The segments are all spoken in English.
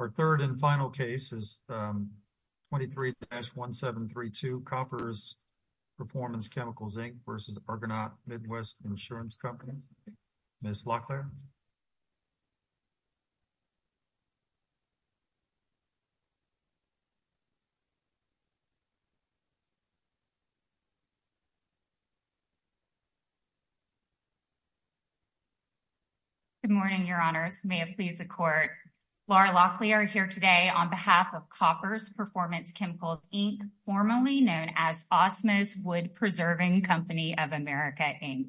Our third and final case is 23-1732, Koppers Performance Chemicals, Inc. v. Argonaut Midwest Insurance Company. Ms. Locklear. Good morning, Your Honors. May it please the Court. Laura Locklear here today on behalf of Koppers Performance Chemicals, Inc., formerly known as Osmos Wood Preserving Company of America, Inc.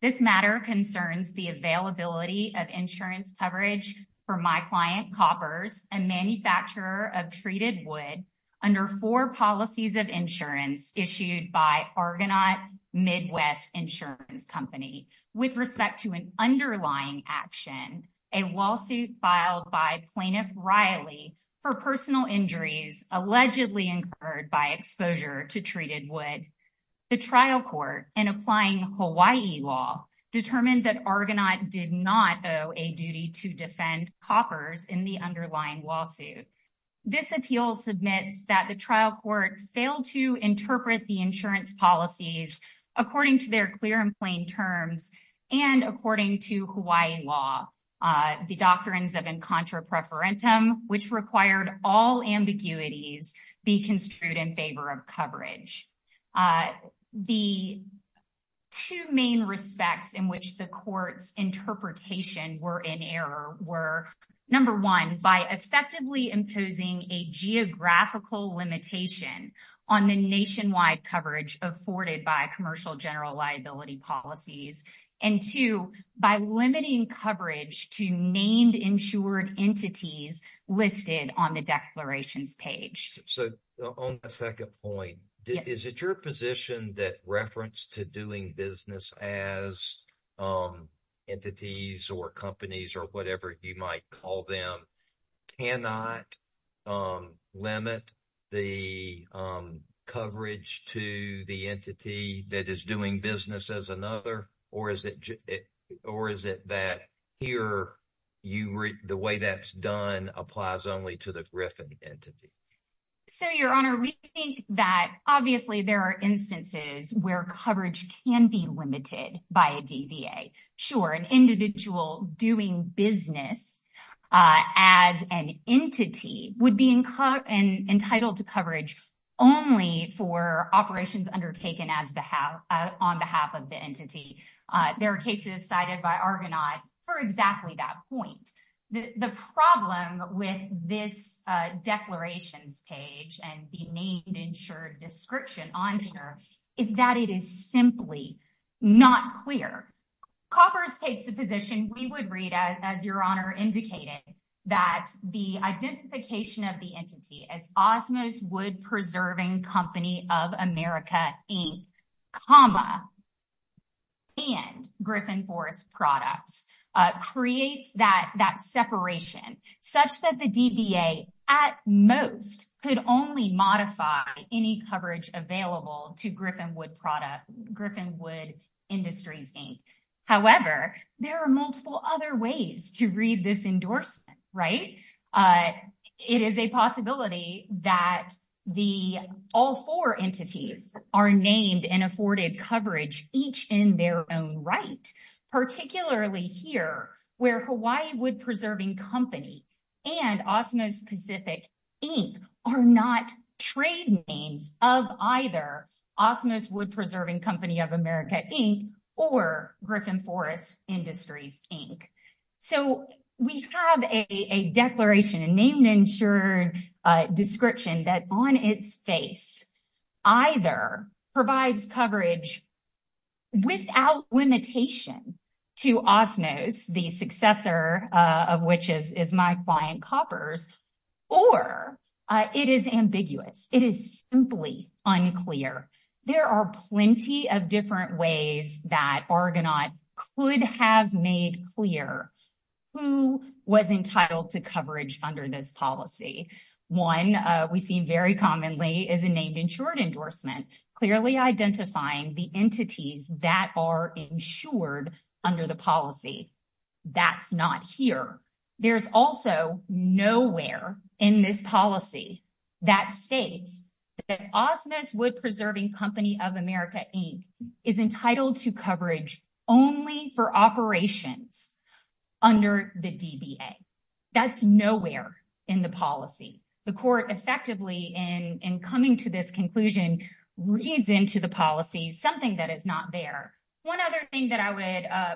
This matter concerns the availability of insurance coverage for my client, Koppers, a manufacturer of treated wood under four policies of insurance issued by Argonaut Midwest Insurance Company with respect to an underlying action, a lawsuit filed by Plaintiff Riley for personal injuries allegedly incurred by exposure to treated wood. The trial court, in applying Hawaii law, determined that Argonaut did not owe a duty to defend Koppers in the underlying lawsuit. This appeal submits that the trial court failed to interpret the insurance policies according to their clear and plain terms and according to Hawaii law, the doctrines of incontra preferentum, which required all ambiguities be construed in favor of coverage. The two main respects in which the court's interpretation were in error were, number one, by effectively imposing a geographical limitation on the nationwide coverage afforded by commercial general liability policies, and two, by limiting coverage to named insured entities listed on the declarations page. So, on the second point, is it your position that reference to doing business as entities or companies or whatever you might call them cannot limit the coverage to the entity that is doing business as another? Or is it that here, the way that's done applies only to the Griffin entity? So, Your Honor, we think that obviously there are instances where coverage can be limited by a DVA. Sure, an individual doing business as an entity would be entitled to coverage only for operations undertaken on behalf of the entity. There are cases cited by Argonaut for exactly that point. The problem with this declarations page and the named insured description on here is that it is simply not clear. Coppers takes the position, we would read as Your Honor indicated, that the identification of the entity as Osmos Wood Preserving Company of America, Inc., comma, and Griffin Forest Products creates that separation such that the DVA at most could only modify any coverage available to Griffin Wood Industries, Inc. However, there are multiple other ways to read this endorsement, right? It is a possibility that all four entities are named and afforded coverage, each in their own right. Particularly here, where Hawaii Wood Preserving Company and Osmos Pacific, Inc. are not trade names of either Osmos Wood Preserving Company of America, Inc. or Griffin Forest Industries, Inc. So we have a declaration, a named insured description that on its face either provides coverage without limitation to Osmos, the successor of which is my client Coppers, or it is ambiguous. It is simply unclear. There are plenty of different ways that Argonaut could have made clear who was entitled to coverage under this policy. One we see very commonly is a named insured endorsement, clearly identifying the entities that are insured under the policy. That's not here. There's also nowhere in this policy that states that Osmos Wood Preserving Company of America, Inc. is entitled to coverage only for operations under the DVA. That's nowhere in the policy. The court effectively, in coming to this conclusion, reads into the policy something that is not there. One other thing that I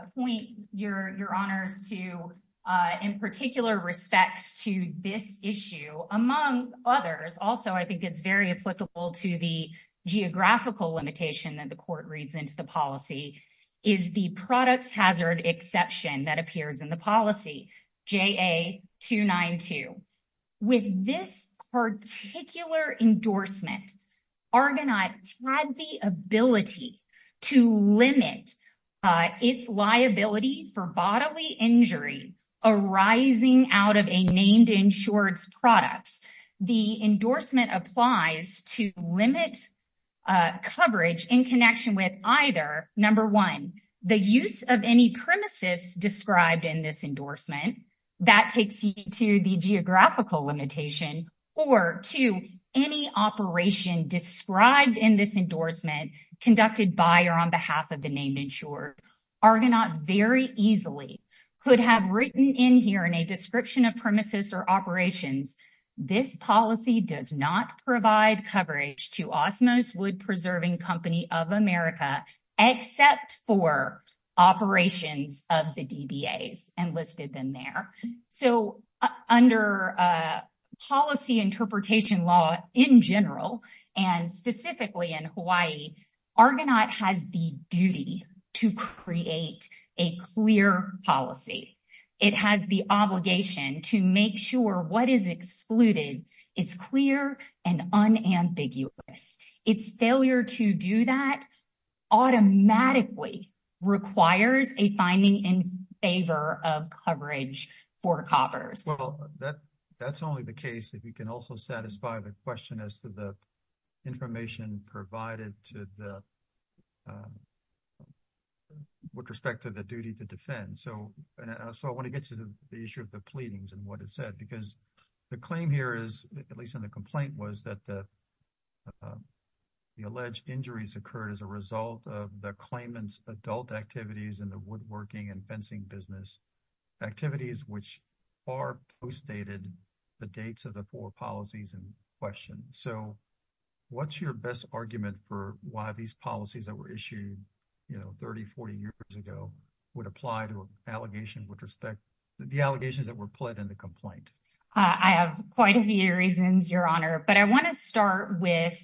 would point your honors to, in particular respects to this issue, among others, also I think it's very applicable to the geographical limitation that the court reads into the policy, is the products hazard exception that appears in the policy, JA-292. With this particular endorsement, Argonaut had the ability to limit its liability for bodily injury arising out of a named insured's products. The endorsement applies to limit coverage in connection with either, number one, the use of any premises described in this endorsement. That takes you to the geographical limitation or to any operation described in this endorsement conducted by or on behalf of the named insured. Argonaut very easily could have written in here in a description of premises or operations, this policy does not provide coverage to Osmos Wood Preserving Company of America except for operations of the DBAs enlisted in there. Under policy interpretation law in general, and specifically in Hawaii, Argonaut has the duty to create a clear policy. It has the obligation to make sure what is excluded is clear and unambiguous. Its failure to do that automatically requires a finding in favor of coverage for coppers. Well, that's only the case if you can also satisfy the question as to the information provided with respect to the duty to defend. I want to get to the issue of the pleadings and what it said because the claim here is, at least in the complaint, was that the alleged injuries occurred as a result of the claimants adult activities in the woodworking and fencing business. Activities which are postdated the dates of the four policies in question. So what's your best argument for why these policies that were issued 30, 40 years ago would apply to an allegation with respect to the allegations that were put in the complaint. I have quite a few reasons, Your Honor, but I want to start with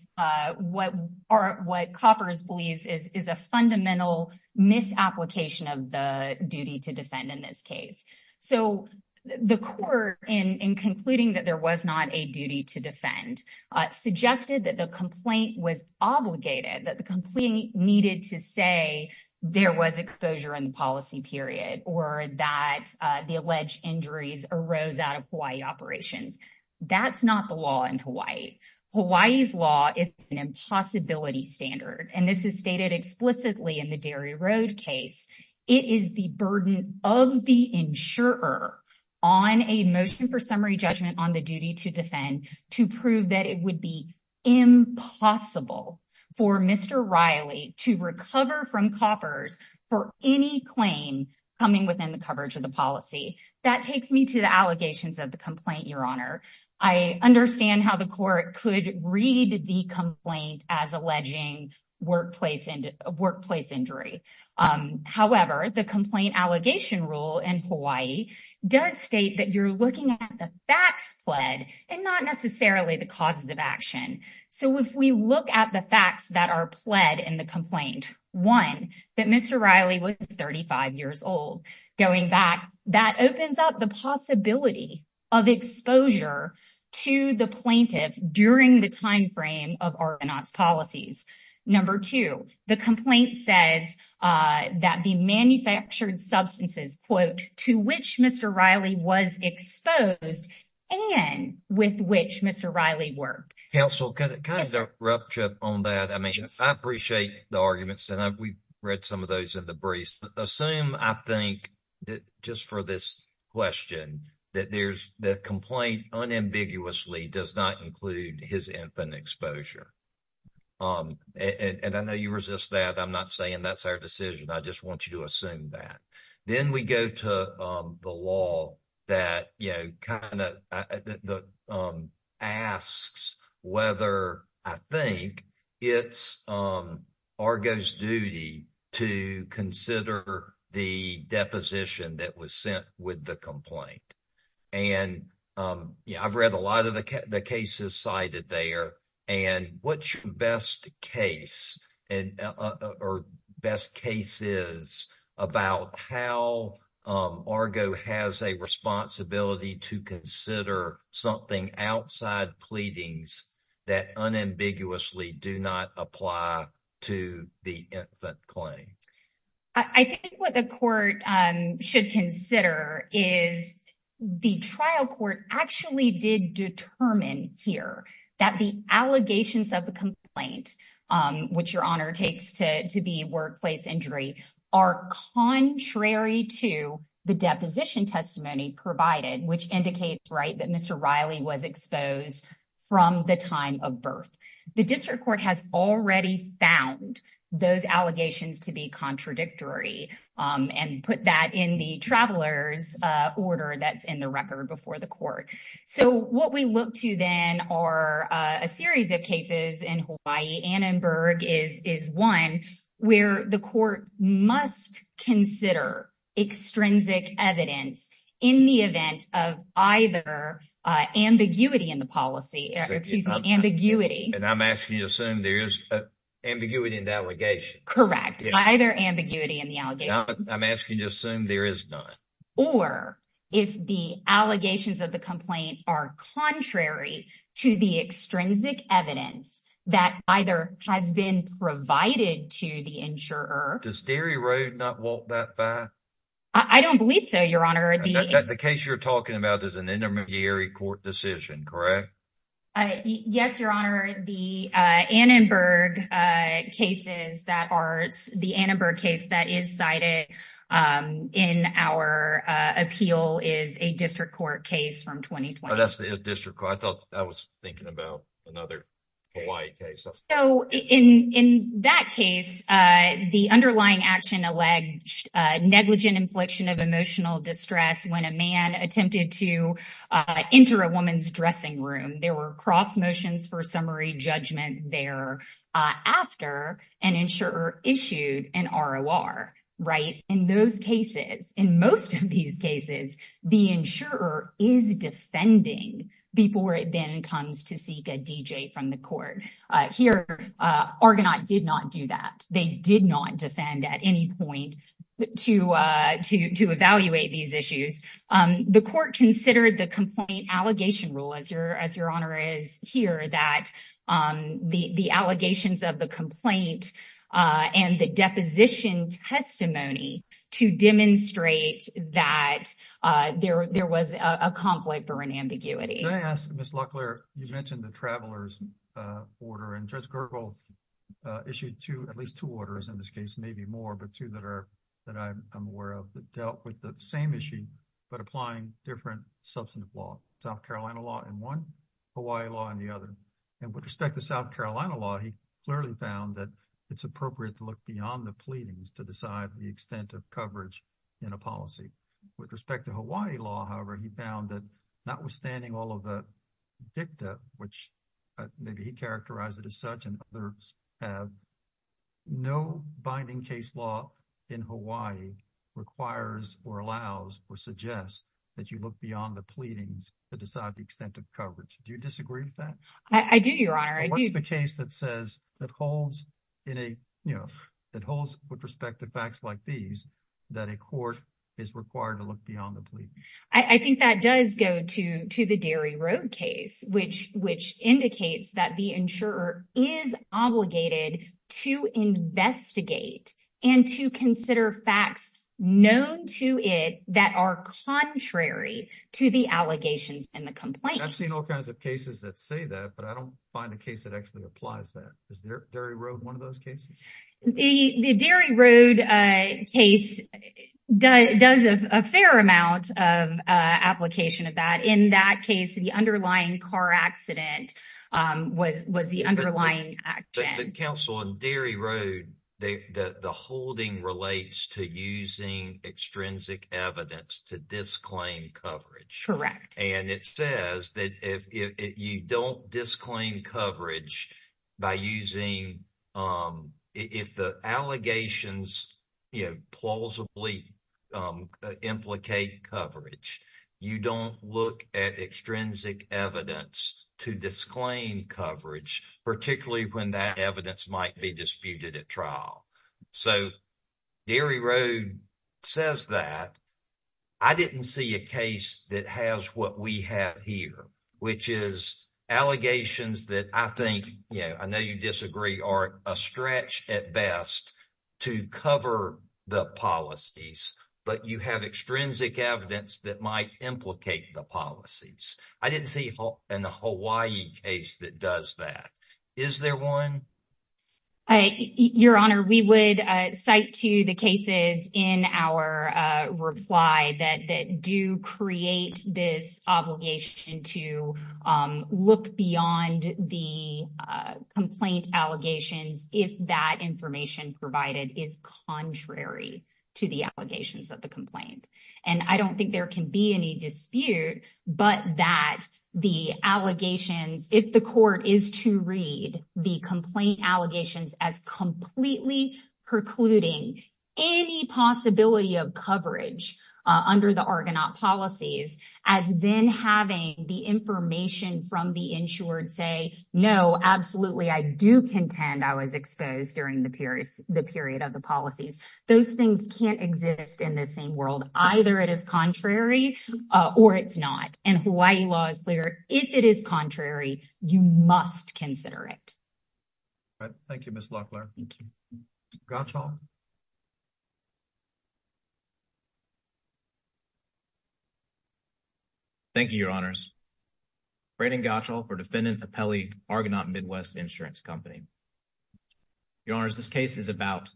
what are what coppers believes is a fundamental misapplication of the duty to defend in this case. So the court, in concluding that there was not a duty to defend, suggested that the complaint was obligated that the complaint needed to say there was exposure in the policy period or that the alleged injuries arose out of Hawaii operations. That's not the law in Hawaii. Hawaii's law is an impossibility standard, and this is stated explicitly in the dairy road case. It is the burden of the insurer on a motion for summary judgment on the duty to defend to prove that it would be impossible for Mr. Riley to recover from coppers for any claim coming within the coverage of the policy. That takes me to the allegations of the complaint, Your Honor. I understand how the court could read the complaint as alleging workplace and workplace injury. However, the complaint allegation rule in Hawaii does state that you're looking at the facts pled and not necessarily the causes of action. So if we look at the facts that are pled in the complaint, one, that Mr. Riley was 35 years old. Going back, that opens up the possibility of exposure to the plaintiff during the time frame of Argonauts policies. Number two, the complaint says that the manufactured substances, quote, to which Mr. Riley was exposed and with which Mr. Riley worked. Counsel, can I interrupt you on that? I mean, I appreciate the arguments, and we've read some of those in the briefs. Assume, I think, that just for this question, that there's the complaint unambiguously does not include his infant exposure. And I know you resist that. I'm not saying that's our decision. I just want you to assume that. Then we go to the law that kind of asks whether I think it's Argo's duty to consider the deposition that was sent with the complaint. And I've read a lot of the cases cited there. And what's your best case or best cases about how Argo has a responsibility to consider something outside pleadings that unambiguously do not apply to the infant claim? I think what the court should consider is the trial court actually did determine here that the allegations of the complaint, which Your Honor takes to be workplace injury, are contrary to the deposition testimony provided, which indicates, right, that Mr. Riley was exposed from the time of birth. The district court has already found those allegations to be contradictory and put that in the traveler's order that's in the record before the court. So what we look to then are a series of cases in Hawaii. Annenberg is one where the court must consider extrinsic evidence in the event of either ambiguity in the policy, excuse me, ambiguity. And I'm asking you to assume there is ambiguity in the allegation. Correct. Either ambiguity in the allegation. I'm asking you to assume there is none. Or if the allegations of the complaint are contrary to the extrinsic evidence that either has been provided to the insurer. Does Derry Road not walk that back? I don't believe so, Your Honor. The case you're talking about is an intermediary court decision, correct? Yes, Your Honor. The Annenberg cases that are the Annenberg case that is cited in our appeal is a district court case from 2020. That's the district court. I thought I was thinking about another Hawaii case. So in that case, the underlying action alleged negligent infliction of emotional distress when a man attempted to enter a woman's dressing room. There were cross motions for summary judgment there after an insurer issued an ROR. In those cases, in most of these cases, the insurer is defending before it then comes to seek a D.J. from the court. Here, Argonaut did not do that. They did not defend at any point to evaluate these issues. The court considered the complaint allegation rule, as Your Honor is here, that the allegations of the complaint and the deposition testimony to demonstrate that there was a conflict or an ambiguity. Can I ask, Ms. Luckler, you mentioned the traveler's order, and Judge Gergel issued at least two orders, in this case, maybe more, but two that I'm aware of that dealt with the same issue, but applying different substantive law. South Carolina law in one, Hawaii law in the other. And with respect to South Carolina law, he clearly found that it's appropriate to look beyond the pleadings to decide the extent of coverage in a policy. With respect to Hawaii law, however, he found that notwithstanding all of the dicta, which maybe he characterized it as such, and others have, no binding case law in Hawaii requires or allows or suggests that you look beyond the pleadings to decide the extent of coverage. Do you disagree with that? What's the case that says, that holds with respect to facts like these, that a court is required to look beyond the pleadings? I think that does go to the Derry Road case, which indicates that the insurer is obligated to investigate and to consider facts known to it that are contrary to the allegations in the complaint. I've seen all kinds of cases that say that, but I don't find a case that actually applies that. Is Derry Road one of those cases? The Derry Road case does a fair amount of application of that. In that case, the underlying car accident was the underlying action. Counsel, on Derry Road, the holding relates to using extrinsic evidence to disclaim coverage. Correct. It says that if you don't disclaim coverage by using, if the allegations plausibly implicate coverage, you don't look at extrinsic evidence to disclaim coverage, particularly when that evidence might be disputed at trial. So, Derry Road says that. I didn't see a case that has what we have here, which is allegations that I think, yeah, I know you disagree, are a stretch at best to cover the policies, but you have extrinsic evidence that might implicate the policies. I didn't see in the Hawaii case that does that. Is there one? Your Honor, we would cite to the cases in our reply that do create this obligation to look beyond the complaint allegations if that information provided is contrary to the allegations of the complaint. And I don't think there can be any dispute, but that the allegations, if the court is to read the complaint allegations as completely precluding any possibility of coverage under the Argonaut policies as then having the information from the insured say, no, absolutely. I do contend. I was exposed during the period, the period of the policies. Those things can't exist in the same world. Either. It is contrary or it's not. And Hawaii law is clear. If it is contrary, you must consider it. Thank you. Miss Locklear. Gotcha. Thank you, Your Honors. Or defendant appellee Argonaut Midwest insurance company. Your Honor, this case is about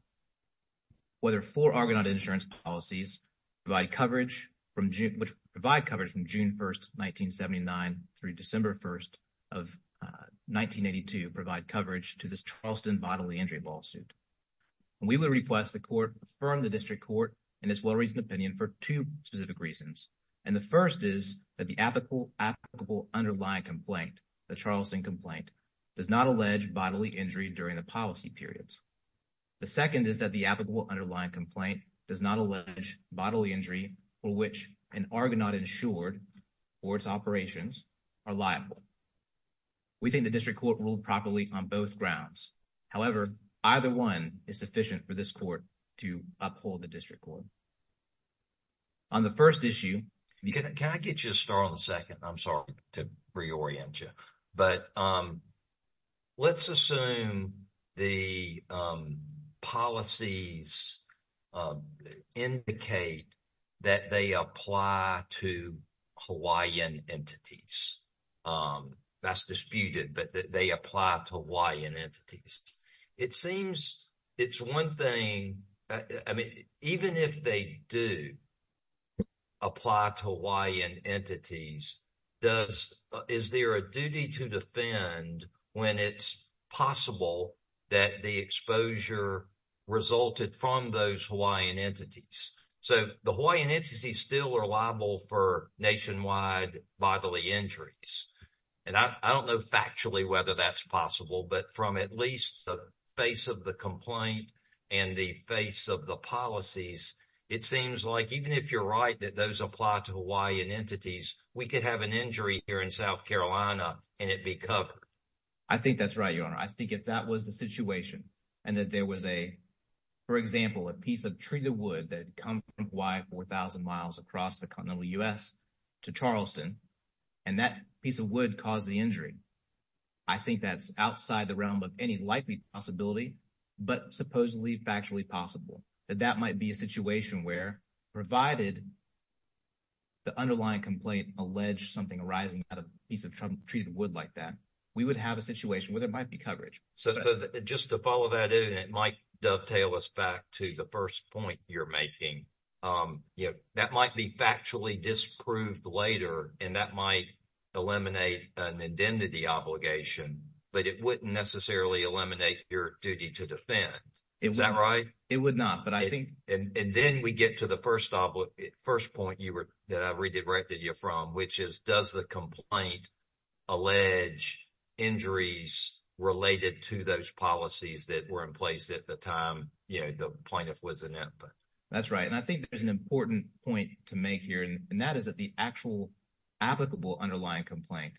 whether for Argonaut insurance policies by coverage from which provide coverage from June 1st, 1979 through December 1st of 1982 provide coverage to this Charleston bodily injury lawsuit. We will request the court from the district court and as well reason opinion for 2 specific reasons. And the 1st is that the applicable applicable underlying complaint, the Charleston complaint does not allege bodily injury during the policy periods. The 2nd is that the applicable underlying complaint does not allege bodily injury for which an Argonaut insured for its operations are liable. We think the district court ruled properly on both grounds. However, either 1 is sufficient for this court to uphold the district court. On the 1st issue. Can I get you to start on the 2nd? I'm sorry to reorient you. But, um. Let's assume the policies indicate that they apply to Hawaiian entities. Um, that's disputed, but they apply to Hawaiian entities. It seems it's 1 thing. I mean, even if they do. Apply to Hawaiian entities. Does is there a duty to defend when it's possible that the exposure. Resulted from those Hawaiian entities, so the Hawaiian entities still are liable for nationwide bodily injuries. And I don't know factually, whether that's possible, but from at least the face of the complaint and the face of the policies, it seems like, even if you're right that those apply to Hawaiian entities, we could have an injury here in South Carolina and it be covered. I think that's right. Your honor. I think if that was the situation and that there was a. For example, a piece of treated wood that come why? 4000 miles across the continental U. S. To Charleston, and that piece of wood caused the injury. I think that's outside the realm of any likely possibility, but supposedly factually possible that that might be a situation where provided. The underlying complaint alleged something arriving at a piece of treated wood like that. We would have a situation where there might be coverage, so just to follow that in, it might dovetail us back to the 1st point you're making. Um, yeah, that might be factually disproved later and that might. Eliminate and indented the obligation, but it wouldn't necessarily eliminate your duty to defend. Is that right? It would not, but I think, and then we get to the 1st, 1st point you were that I redirected you from, which is does the complaint. Alleged injuries related to those policies that were in place at the time. Yeah, the point if wasn't it, but that's right. And I think there's an important point to make here and that is that the actual. Applicable underlying complaint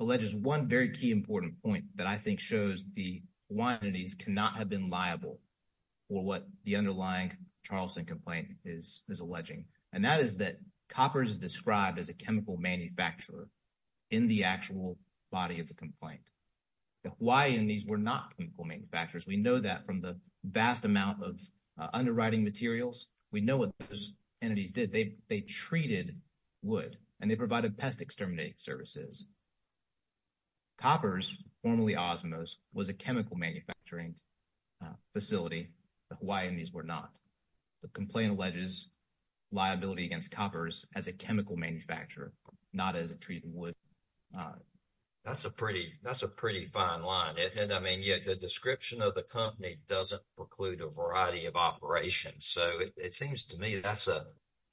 alleges 1 very key important point that I think shows the quantities cannot have been liable. Or what the underlying Charleston complaint is is alleging and that is that copper is described as a chemical manufacturer. In the actual body of the complaint. Why, and these were not chemical manufacturers. We know that from the vast amount of. Underwriting materials, we know what those entities did. They, they treated. Would, and they provided pest exterminate services. That's a pretty, that's a pretty fine line. And I mean, yet the description of the company doesn't preclude a variety of operations. So, it seems to me that's a.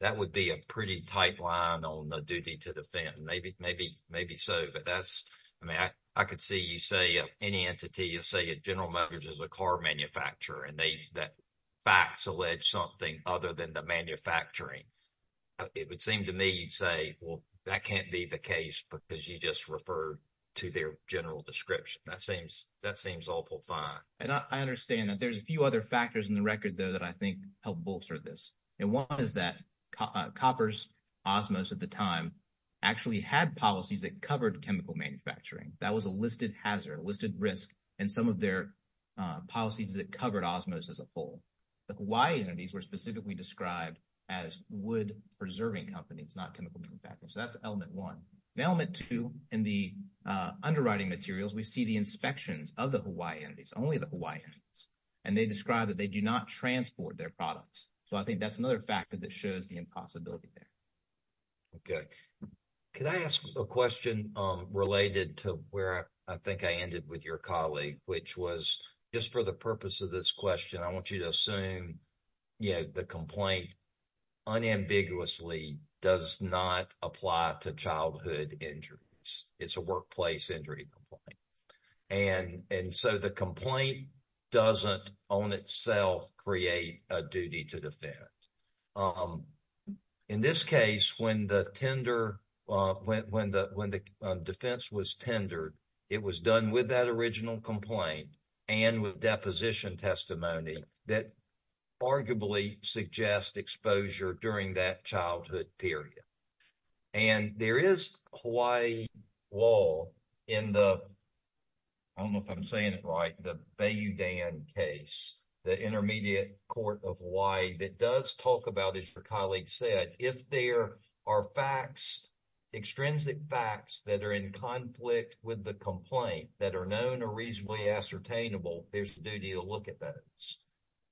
That would be a pretty tight line on the duty to defend maybe, maybe, maybe some. So, but that's, I mean, I could see you say any entity, you'll say a general managers, a car manufacturer, and they, that. Facts alleged something other than the manufacturing. It would seem to me, you'd say, well, that can't be the case because you just refer. To their general description that seems that seems awful fine. And I understand that there's a few other factors in the record though, that I think help bolster this. And 1 is that coppers at the time. Actually had policies that covered chemical manufacturing. That was a listed hazard listed risk and some of their. Policies that covered as most as a whole. Why, and these were specifically described as wood preserving companies, not chemical manufacturing. So that's element 1 element 2 and the underwriting materials. We see the inspections of the Hawaii entities, only the Hawaii. And they describe that they do not transport their products. So I think that's another factor that shows the impossibility there. Okay, can I ask a question related to where I think I ended with your colleague, which was just for the purpose of this question? I want you to assume. Yeah, the complaint unambiguously does not apply to childhood injuries. It's a workplace injury. And and so the complaint doesn't on itself, create a duty to defend. In this case, when the tender went, when the, when the defense was tendered. It was done with that original complaint and with deposition testimony that. Arguably suggest exposure during that childhood period. And there is Hawaii wall in the. I don't know if I'm saying it right. The Bay, you Dan case. The intermediate court of why that does talk about is for colleagues said if there are facts. Extrinsic facts that are in conflict with the complaint that are known or reasonably ascertainable. There's the duty to look at that.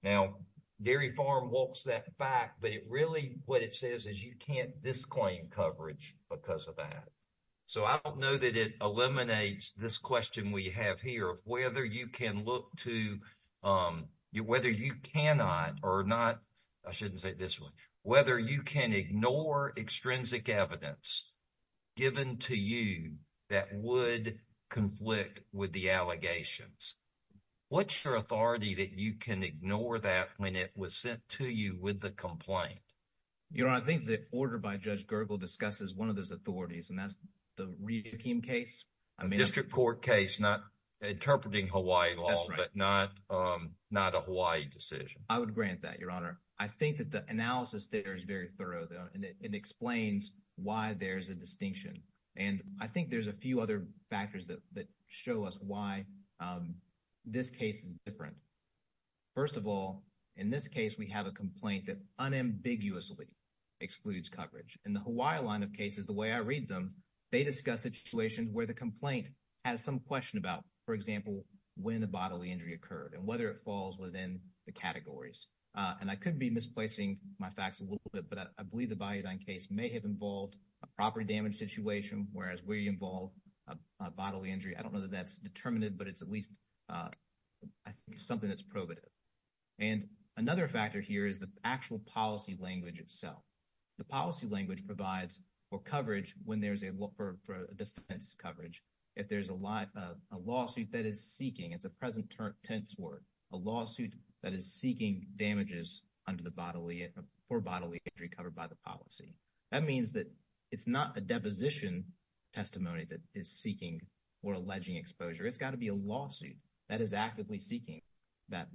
Now, dairy farm walks that back, but it really what it says is you can't this claim coverage because of that. So, I don't know that it eliminates this question we have here of whether you can look to. Um, whether you cannot or not. I shouldn't say this 1, whether you can ignore extrinsic evidence. Given to you that would conflict with the allegations. What's your authority that you can ignore that when it was sent to you with the complaint? You know, I think the order by judge Gergel discusses 1 of those authorities and that's. The case, I mean, district court case, not. Interpreting Hawaii law, but not, um, not a Hawaii decision. I would grant that. Your honor. I think that the analysis there is very thorough and it explains why there's a distinction. And I think there's a few other factors that that show us why. Um, this case is different 1st of all. In this case, we have a complaint that unambiguously. Excludes coverage and the Hawaiian line of cases the way I read them. They discuss situations where the complaint has some question about, for example, when the bodily injury occurred and whether it falls within the categories. And I could be misplacing my facts a little bit, but I believe the case may have involved a property damage situation. Whereas we involve a bodily injury. I don't know that that's determinative, but it's at least. Uh, I think something that's probative. And another factor here is the actual policy language itself. The policy language provides for coverage when there's a look for defense coverage. If there's a lot of a lawsuit that is seeking, it's a present tense word, a lawsuit that is seeking damages under the bodily or bodily injury covered by the policy. That means that it's not a deposition testimony that is seeking. Or alleging exposure, it's gotta be a lawsuit that is actively seeking. That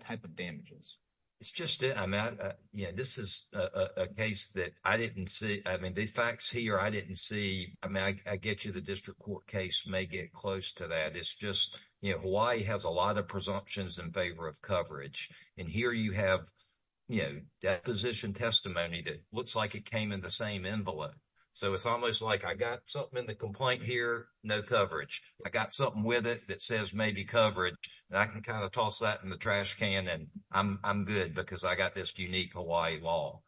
type of damages. It's just, yeah, this is a case that I didn't see. I mean, the facts here, I didn't see I get you. The district court case may get close to that. It's just, you know, why he has a lot of presumptions in favor of coverage and here you have. Yeah, that position testimony that looks like it came in the same envelope. So, it's almost like I got something in the complaint here. No coverage. I got something with it that says maybe coverage and I can kind of toss that in the trash can and I'm good because I got this unique Hawaii law.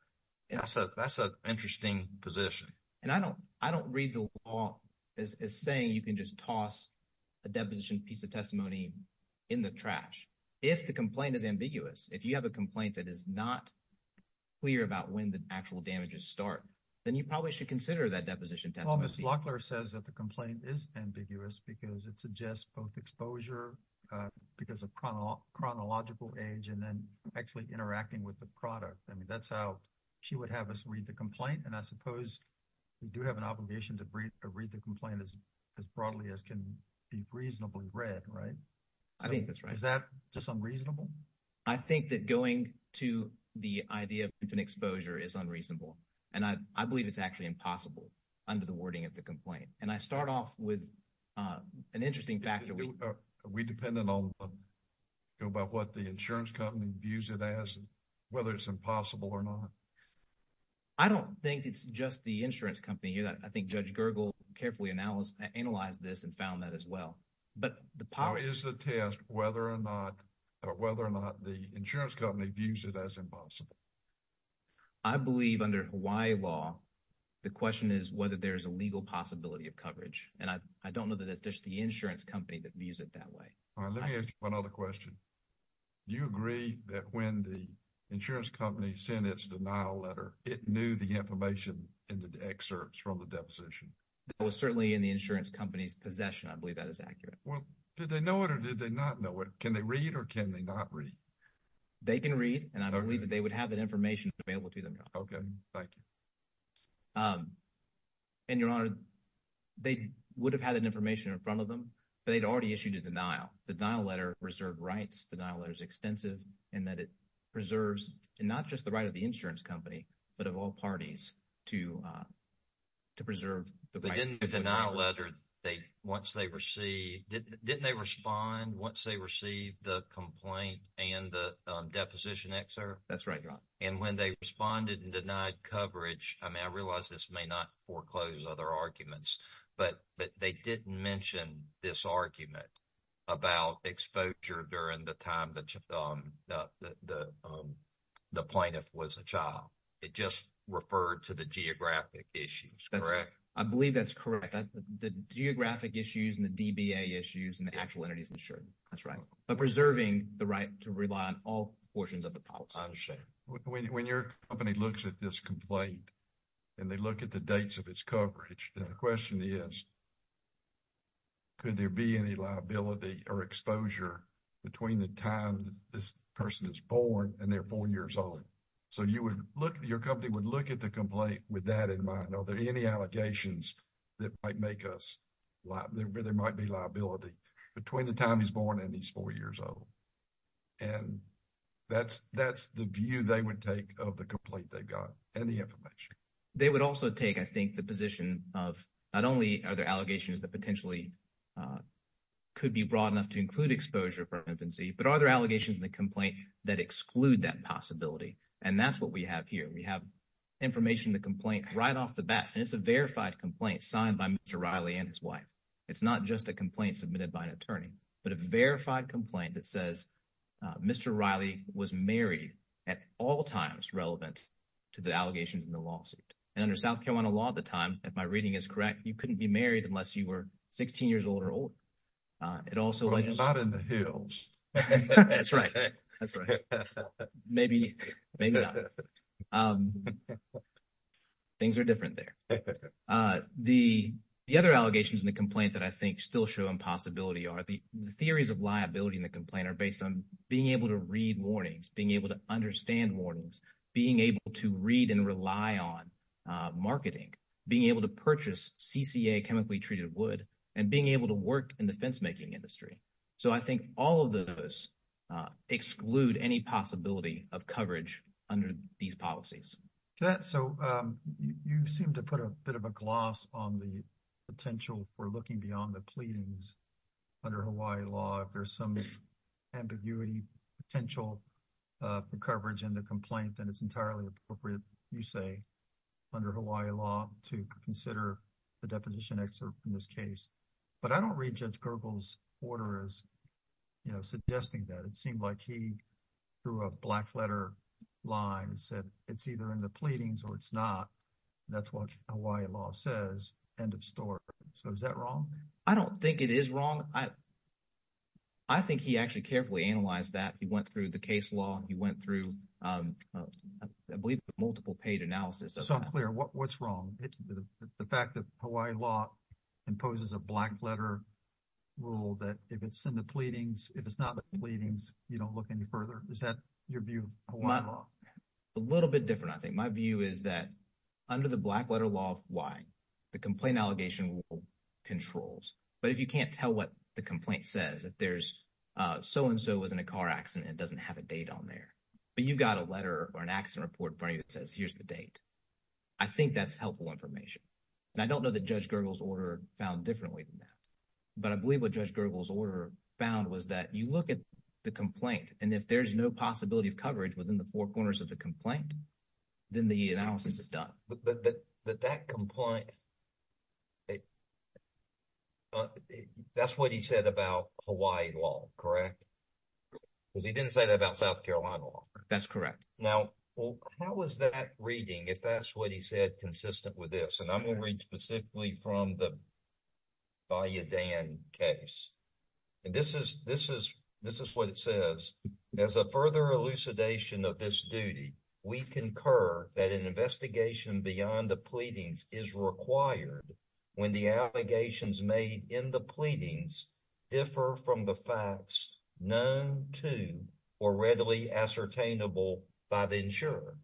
And so that's an interesting position and I don't, I don't read the law. Is saying you can just toss a deposition piece of testimony in the trash. If the complaint is ambiguous, if you have a complaint that is not. Clear about when the actual damages start, then you probably should consider that deposition says that the complaint is ambiguous because it suggests both exposure. Uh, because of chronological age, and then actually interacting with the product. I mean, that's how she would have us read the complaint and I suppose. We do have an obligation to read the complaint as as broadly as can be reasonably read. Right? I think that's right. Is that just unreasonable? I think that going to the idea of an exposure is unreasonable. And I, I believe it's actually impossible under the wording of the complaint and I start off with. An interesting factor we dependent on. Go about what the insurance company views it as whether it's impossible or not. I don't think it's just the insurance company that I think judge carefully analyze analyze this and found that as well. But the power is the test, whether or not or whether or not the insurance company views it as impossible. I believe under Hawaii law. The question is whether there's a legal possibility of coverage and I, I don't know that it's just the insurance company that views it that way. All right. Let me ask you another question. You agree that when the insurance company sent its denial letter, it knew the information in the excerpts from the deposition. It was certainly in the insurance company's possession. I believe that is accurate. Well, did they know it or did they not know it? Can they read or can they not read? They can read and I believe that they would have that information available to them. Okay. Thank you. And your honor. They would have had an information in front of them, but they'd already issued a denial denial letter reserved rights denial letters extensive and that it. Preserves and not just the right of the insurance company, but of all parties to. To preserve the denial letter they once they receive, didn't they respond once they receive the complaint and the deposition excerpt? That's right. And when they responded and denied coverage, I mean, I realize this may not foreclose other arguments, but, but they didn't mention this argument. About exposure during the time that the. The plaintiff was a child, it just referred to the geographic issues. Correct? I believe that's correct. The geographic issues and the issues and the actual entities insured. That's right. Preserving the right to rely on all portions of the policy. When your company looks at this complaint. And they look at the dates of its coverage and the question is. Could there be any liability or exposure? Between the time this person is born and they're 4 years old. So, you would look at your company would look at the complaint with that in mind. Are there any allegations. That might make us, there might be liability between the time he's born and he's 4 years old. And that's that's the view they would take of the complaint. They've got any information. They would also take, I think the position of not only are there allegations that potentially. Could be broad enough to include exposure for infancy, but are there allegations in the complaint that exclude that possibility? And that's what we have here. We have. Information the complaint right off the bat, and it's a verified complaint signed by Mr. Riley and his wife. It's not just a complaint submitted by an attorney, but a verified complaint that says. Mr. Riley was married at all times relevant. To the allegations in the lawsuit and under South Carolina law at the time, if my reading is correct, you couldn't be married unless you were 16 years old or old. It also is not in the hills. That's right. That's right. Maybe. Maybe things are different there. The, the other allegations in the complaints that I think still show impossibility are the theories of liability in the complaint are based on being able to read warnings, being able to understand warnings, being able to read and rely on. Uh, marketing being able to purchase chemically treated wood and being able to work in the fence making industry. So, I think all of those exclude any possibility of coverage under these policies. That so, um, you seem to put a bit of a gloss on the potential for looking beyond the pleadings. Under Hawaii law, if there's some ambiguity potential. The coverage and the complaint, and it's entirely appropriate you say. Under Hawaii law to consider the deposition excerpt in this case. But I don't read judge gurgles order is, you know, suggesting that it seemed like he threw a black letter line said, it's either in the pleadings or it's not. That's what Hawaii law says end of story. So is that wrong? I don't think it is wrong. I. I think he actually carefully analyze that he went through the case law. He went through, um, I believe multiple paid analysis. So I'm clear what what's wrong with the fact that Hawaii law. Imposes a black letter rule that if it's in the pleadings, if it's not the pleadings, you don't look any further. Is that your view? A little bit different. I think my view is that under the black letter law. Why? The complaint allegation controls, but if you can't tell what the complaint says, if there's so and so was in a car accident, it doesn't have a date on there, but you've got a letter or an accident report for you. It says, here's the date. I think that's helpful information, and I don't know that judge Gurgles order found differently than that, but I believe what judge Gurgles order found was that you look at the complaint. And if there's no possibility of coverage within the 4 corners of the complaint. Then the analysis is done, but that that that complaint. That's what he said about Hawaii law. Correct. Because he didn't say that about South Carolina law. That's correct. Now, how is that reading? If that's what he said, consistent with this and I'm going to read specifically from the. By a Dan case, and this is this is this is what it says as a further elucidation of this duty, we concur that an investigation beyond the pleadings is required. When the allegations made in the pleadings. Differ from the facts known to or readily ascertainable by the insurer.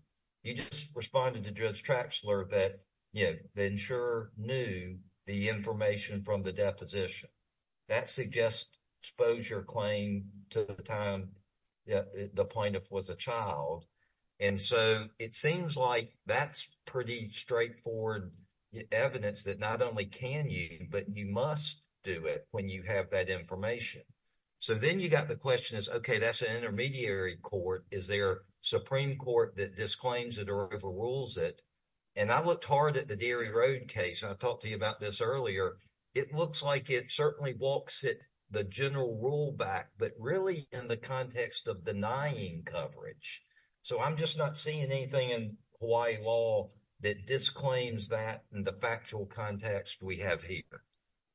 He just responded to judge tracks alert that, you know, the insurer knew the information from the deposition. That suggests exposure claim to the time. Yeah, the point of was a child, and so it seems like that's pretty straightforward. Evidence that not only can you, but you must do it when you have that information. So, then you got the question is okay, that's an intermediary court. Is there Supreme Court that disclaims that rules it. And I looked hard at the dairy road case, and I talked to you about this earlier. It looks like it certainly walks it the general rule back, but really in the context of denying coverage. So, I'm just not seeing anything in Hawaii law that disclaims that in the factual context we have here.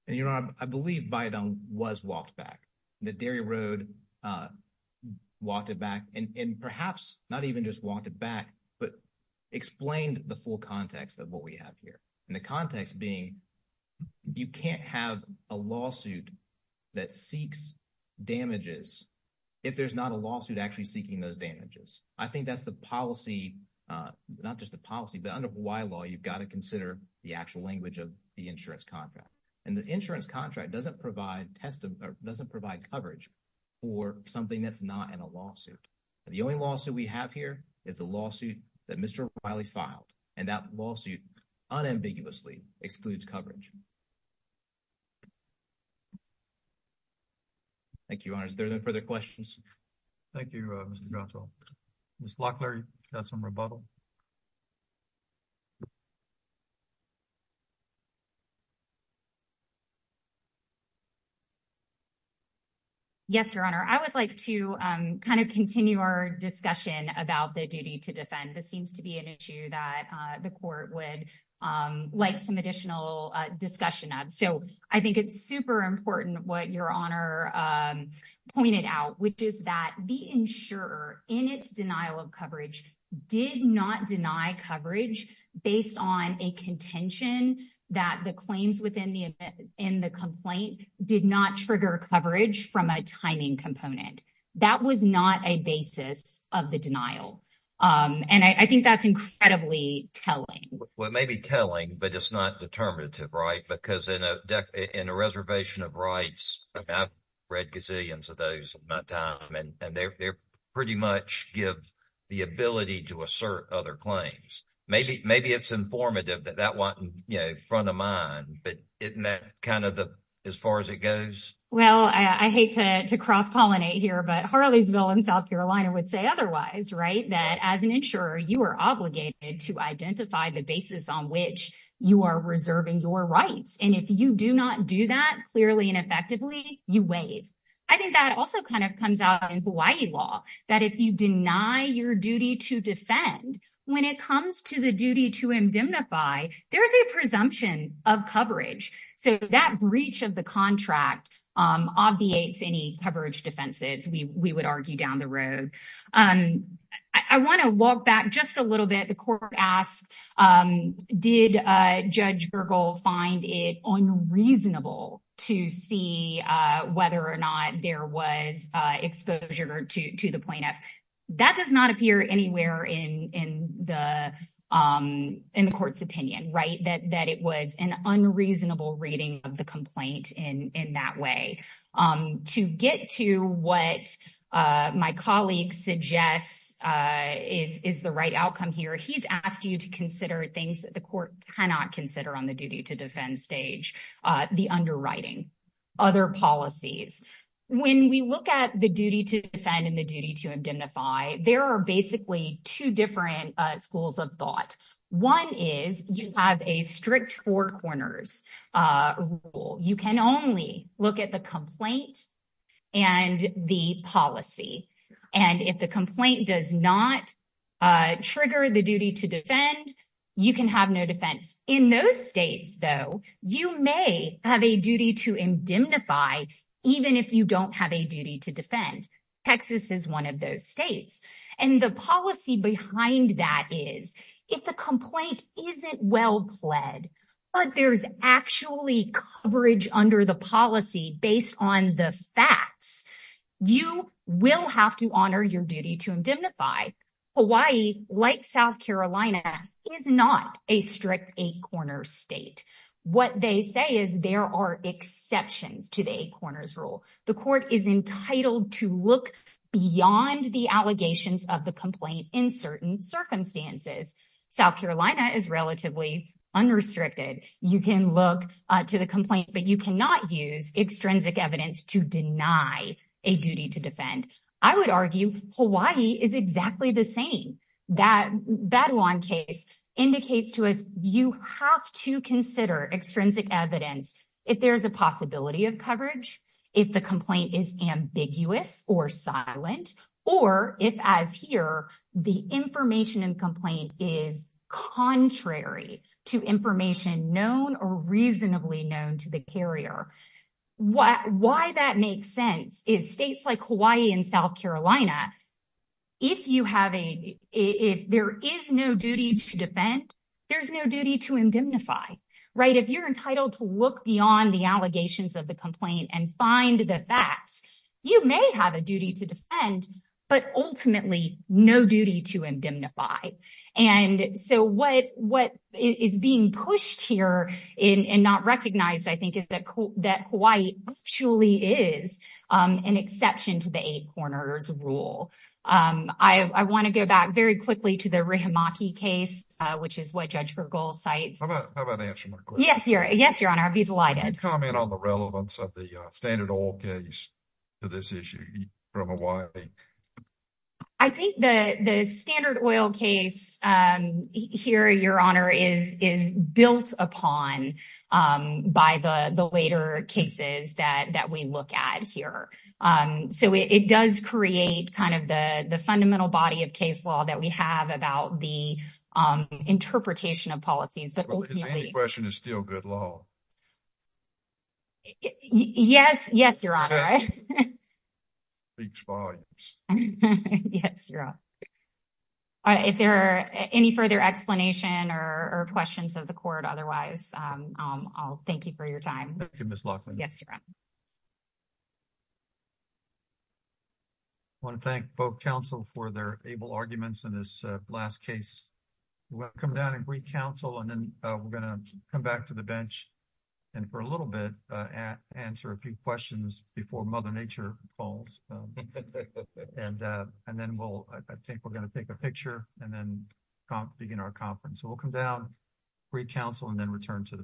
And, you know, I believe by done was walked back the dairy road. Walked it back and perhaps not even just walked it back, but. Explained the full context of what we have here and the context being. You can't have a lawsuit. That seeks damages if there's not a lawsuit actually seeking those damages. I think that's the policy. Uh, not just the policy, but under why law, you've got to consider the actual language of the insurance contract. And the insurance contract doesn't provide test doesn't provide coverage. For something that's not in a lawsuit, the only lawsuit we have here is the lawsuit that Mr. Riley filed and that lawsuit. Unambiguously excludes coverage. Thank you. There's no further questions. Thank you. Mr. miss Locklear. That's some rebuttal. Yes, your honor, I would like to kind of continue our discussion about the duty to defend. This seems to be an issue that the court would like some additional discussion on. So, I think it's super important what your honor pointed out, which is that the insurer in its denial of coverage did not deny coverage based on a contention that the claims within the in the complaint did not trigger coverage from a timing component. That was not a basis of the denial and I think that's incredibly telling what may be telling, but it's not determinative. Right? Because in a, in a reservation of rights, I've read gazillions of those my time and they're pretty much give the ability to assert other claims. Maybe, maybe it's informative that that 1 in front of mine, but isn't that kind of the, as far as it goes? Well, I hate to cross pollinate here, but Harley's bill in South Carolina would say otherwise. Right? That as an insurer, you are obligated to identify the basis on which you are reserving your rights. And if you do not do that, clearly and effectively, you waive. I think that also kind of comes out in Hawaii law that if you deny your duty to defend when it comes to the duty to indemnify, there's a presumption of coverage. So that breach of the contract obviates any coverage defenses, we would argue down the road. I want to walk back just a little bit. The court asked, did judge find it unreasonable to see whether or not there was exposure to the plaintiff that does not appear anywhere in the in the court's opinion, right? That that it was an unreasonable reading of the complaint in that way to get to what my colleague suggests is the right outcome here. He's asked you to consider things that the court cannot consider on the duty to defend stage the underwriting. Other policies, when we look at the duty to defend and the duty to identify, there are basically 2 different schools of thought. 1 is you have a strict 4 corners rule. You can only look at the complaint. And the policy, and if the complaint does not. Trigger the duty to defend, you can have no defense in those states, though, you may have a duty to indemnify even if you don't have a duty to defend Texas is 1 of those states and the policy behind that is if the complaint isn't well pled. But there's actually coverage under the policy based on the facts you will have to honor your duty to indemnify. Hawaii, like South Carolina, is not a strict 8 corner state. What they say is there are exceptions to the 8 corners rule. The court is entitled to look beyond the allegations of the complaint in certain circumstances. South Carolina is relatively unrestricted. You can look to the complaint, but you cannot use extrinsic evidence to deny a duty to defend. I would argue Hawaii is exactly the same. That 1 case indicates to us, you have to consider extrinsic evidence. If there's a possibility of coverage, if the complaint is ambiguous or silent, or if as here, the information and complaint is contrary to information known or reasonably known to the carrier. Why that makes sense is states like Hawaii and South Carolina. If you have a, if there is no duty to defend, there's no duty to indemnify. If you're entitled to look beyond the allegations of the complaint and find the facts, you may have a duty to defend, but ultimately no duty to indemnify. And so what is being pushed here and not recognized, I think, is that Hawaii actually is an exception to the 8 corners rule. I want to go back very quickly to the Rehimaki case, which is what Judge Bergall cites. How about I answer my question? Yes, Your Honor, I'd be delighted. Can you comment on the relevance of the Standard Oil case to this issue from Hawaii? I think the Standard Oil case here, Your Honor, is built upon by the later cases that we look at here. So it does create kind of the fundamental body of case law that we have about the interpretation of policies. But ultimately— But his answer to the question is still good law. Yes. Yes, Your Honor. Yes, Your Honor. If there are any further explanation or questions of the court otherwise, I'll thank you for your time. Thank you, Ms. Laughlin. Yes, Your Honor. I want to thank both counsel for their able arguments in this last case. We'll come down and recounsel, and then we're going to come back to the bench and for a little bit answer a few questions before Mother Nature falls. And then I think we're going to take a picture and then begin our conference. So we'll come down, recounsel, and then return to the bench.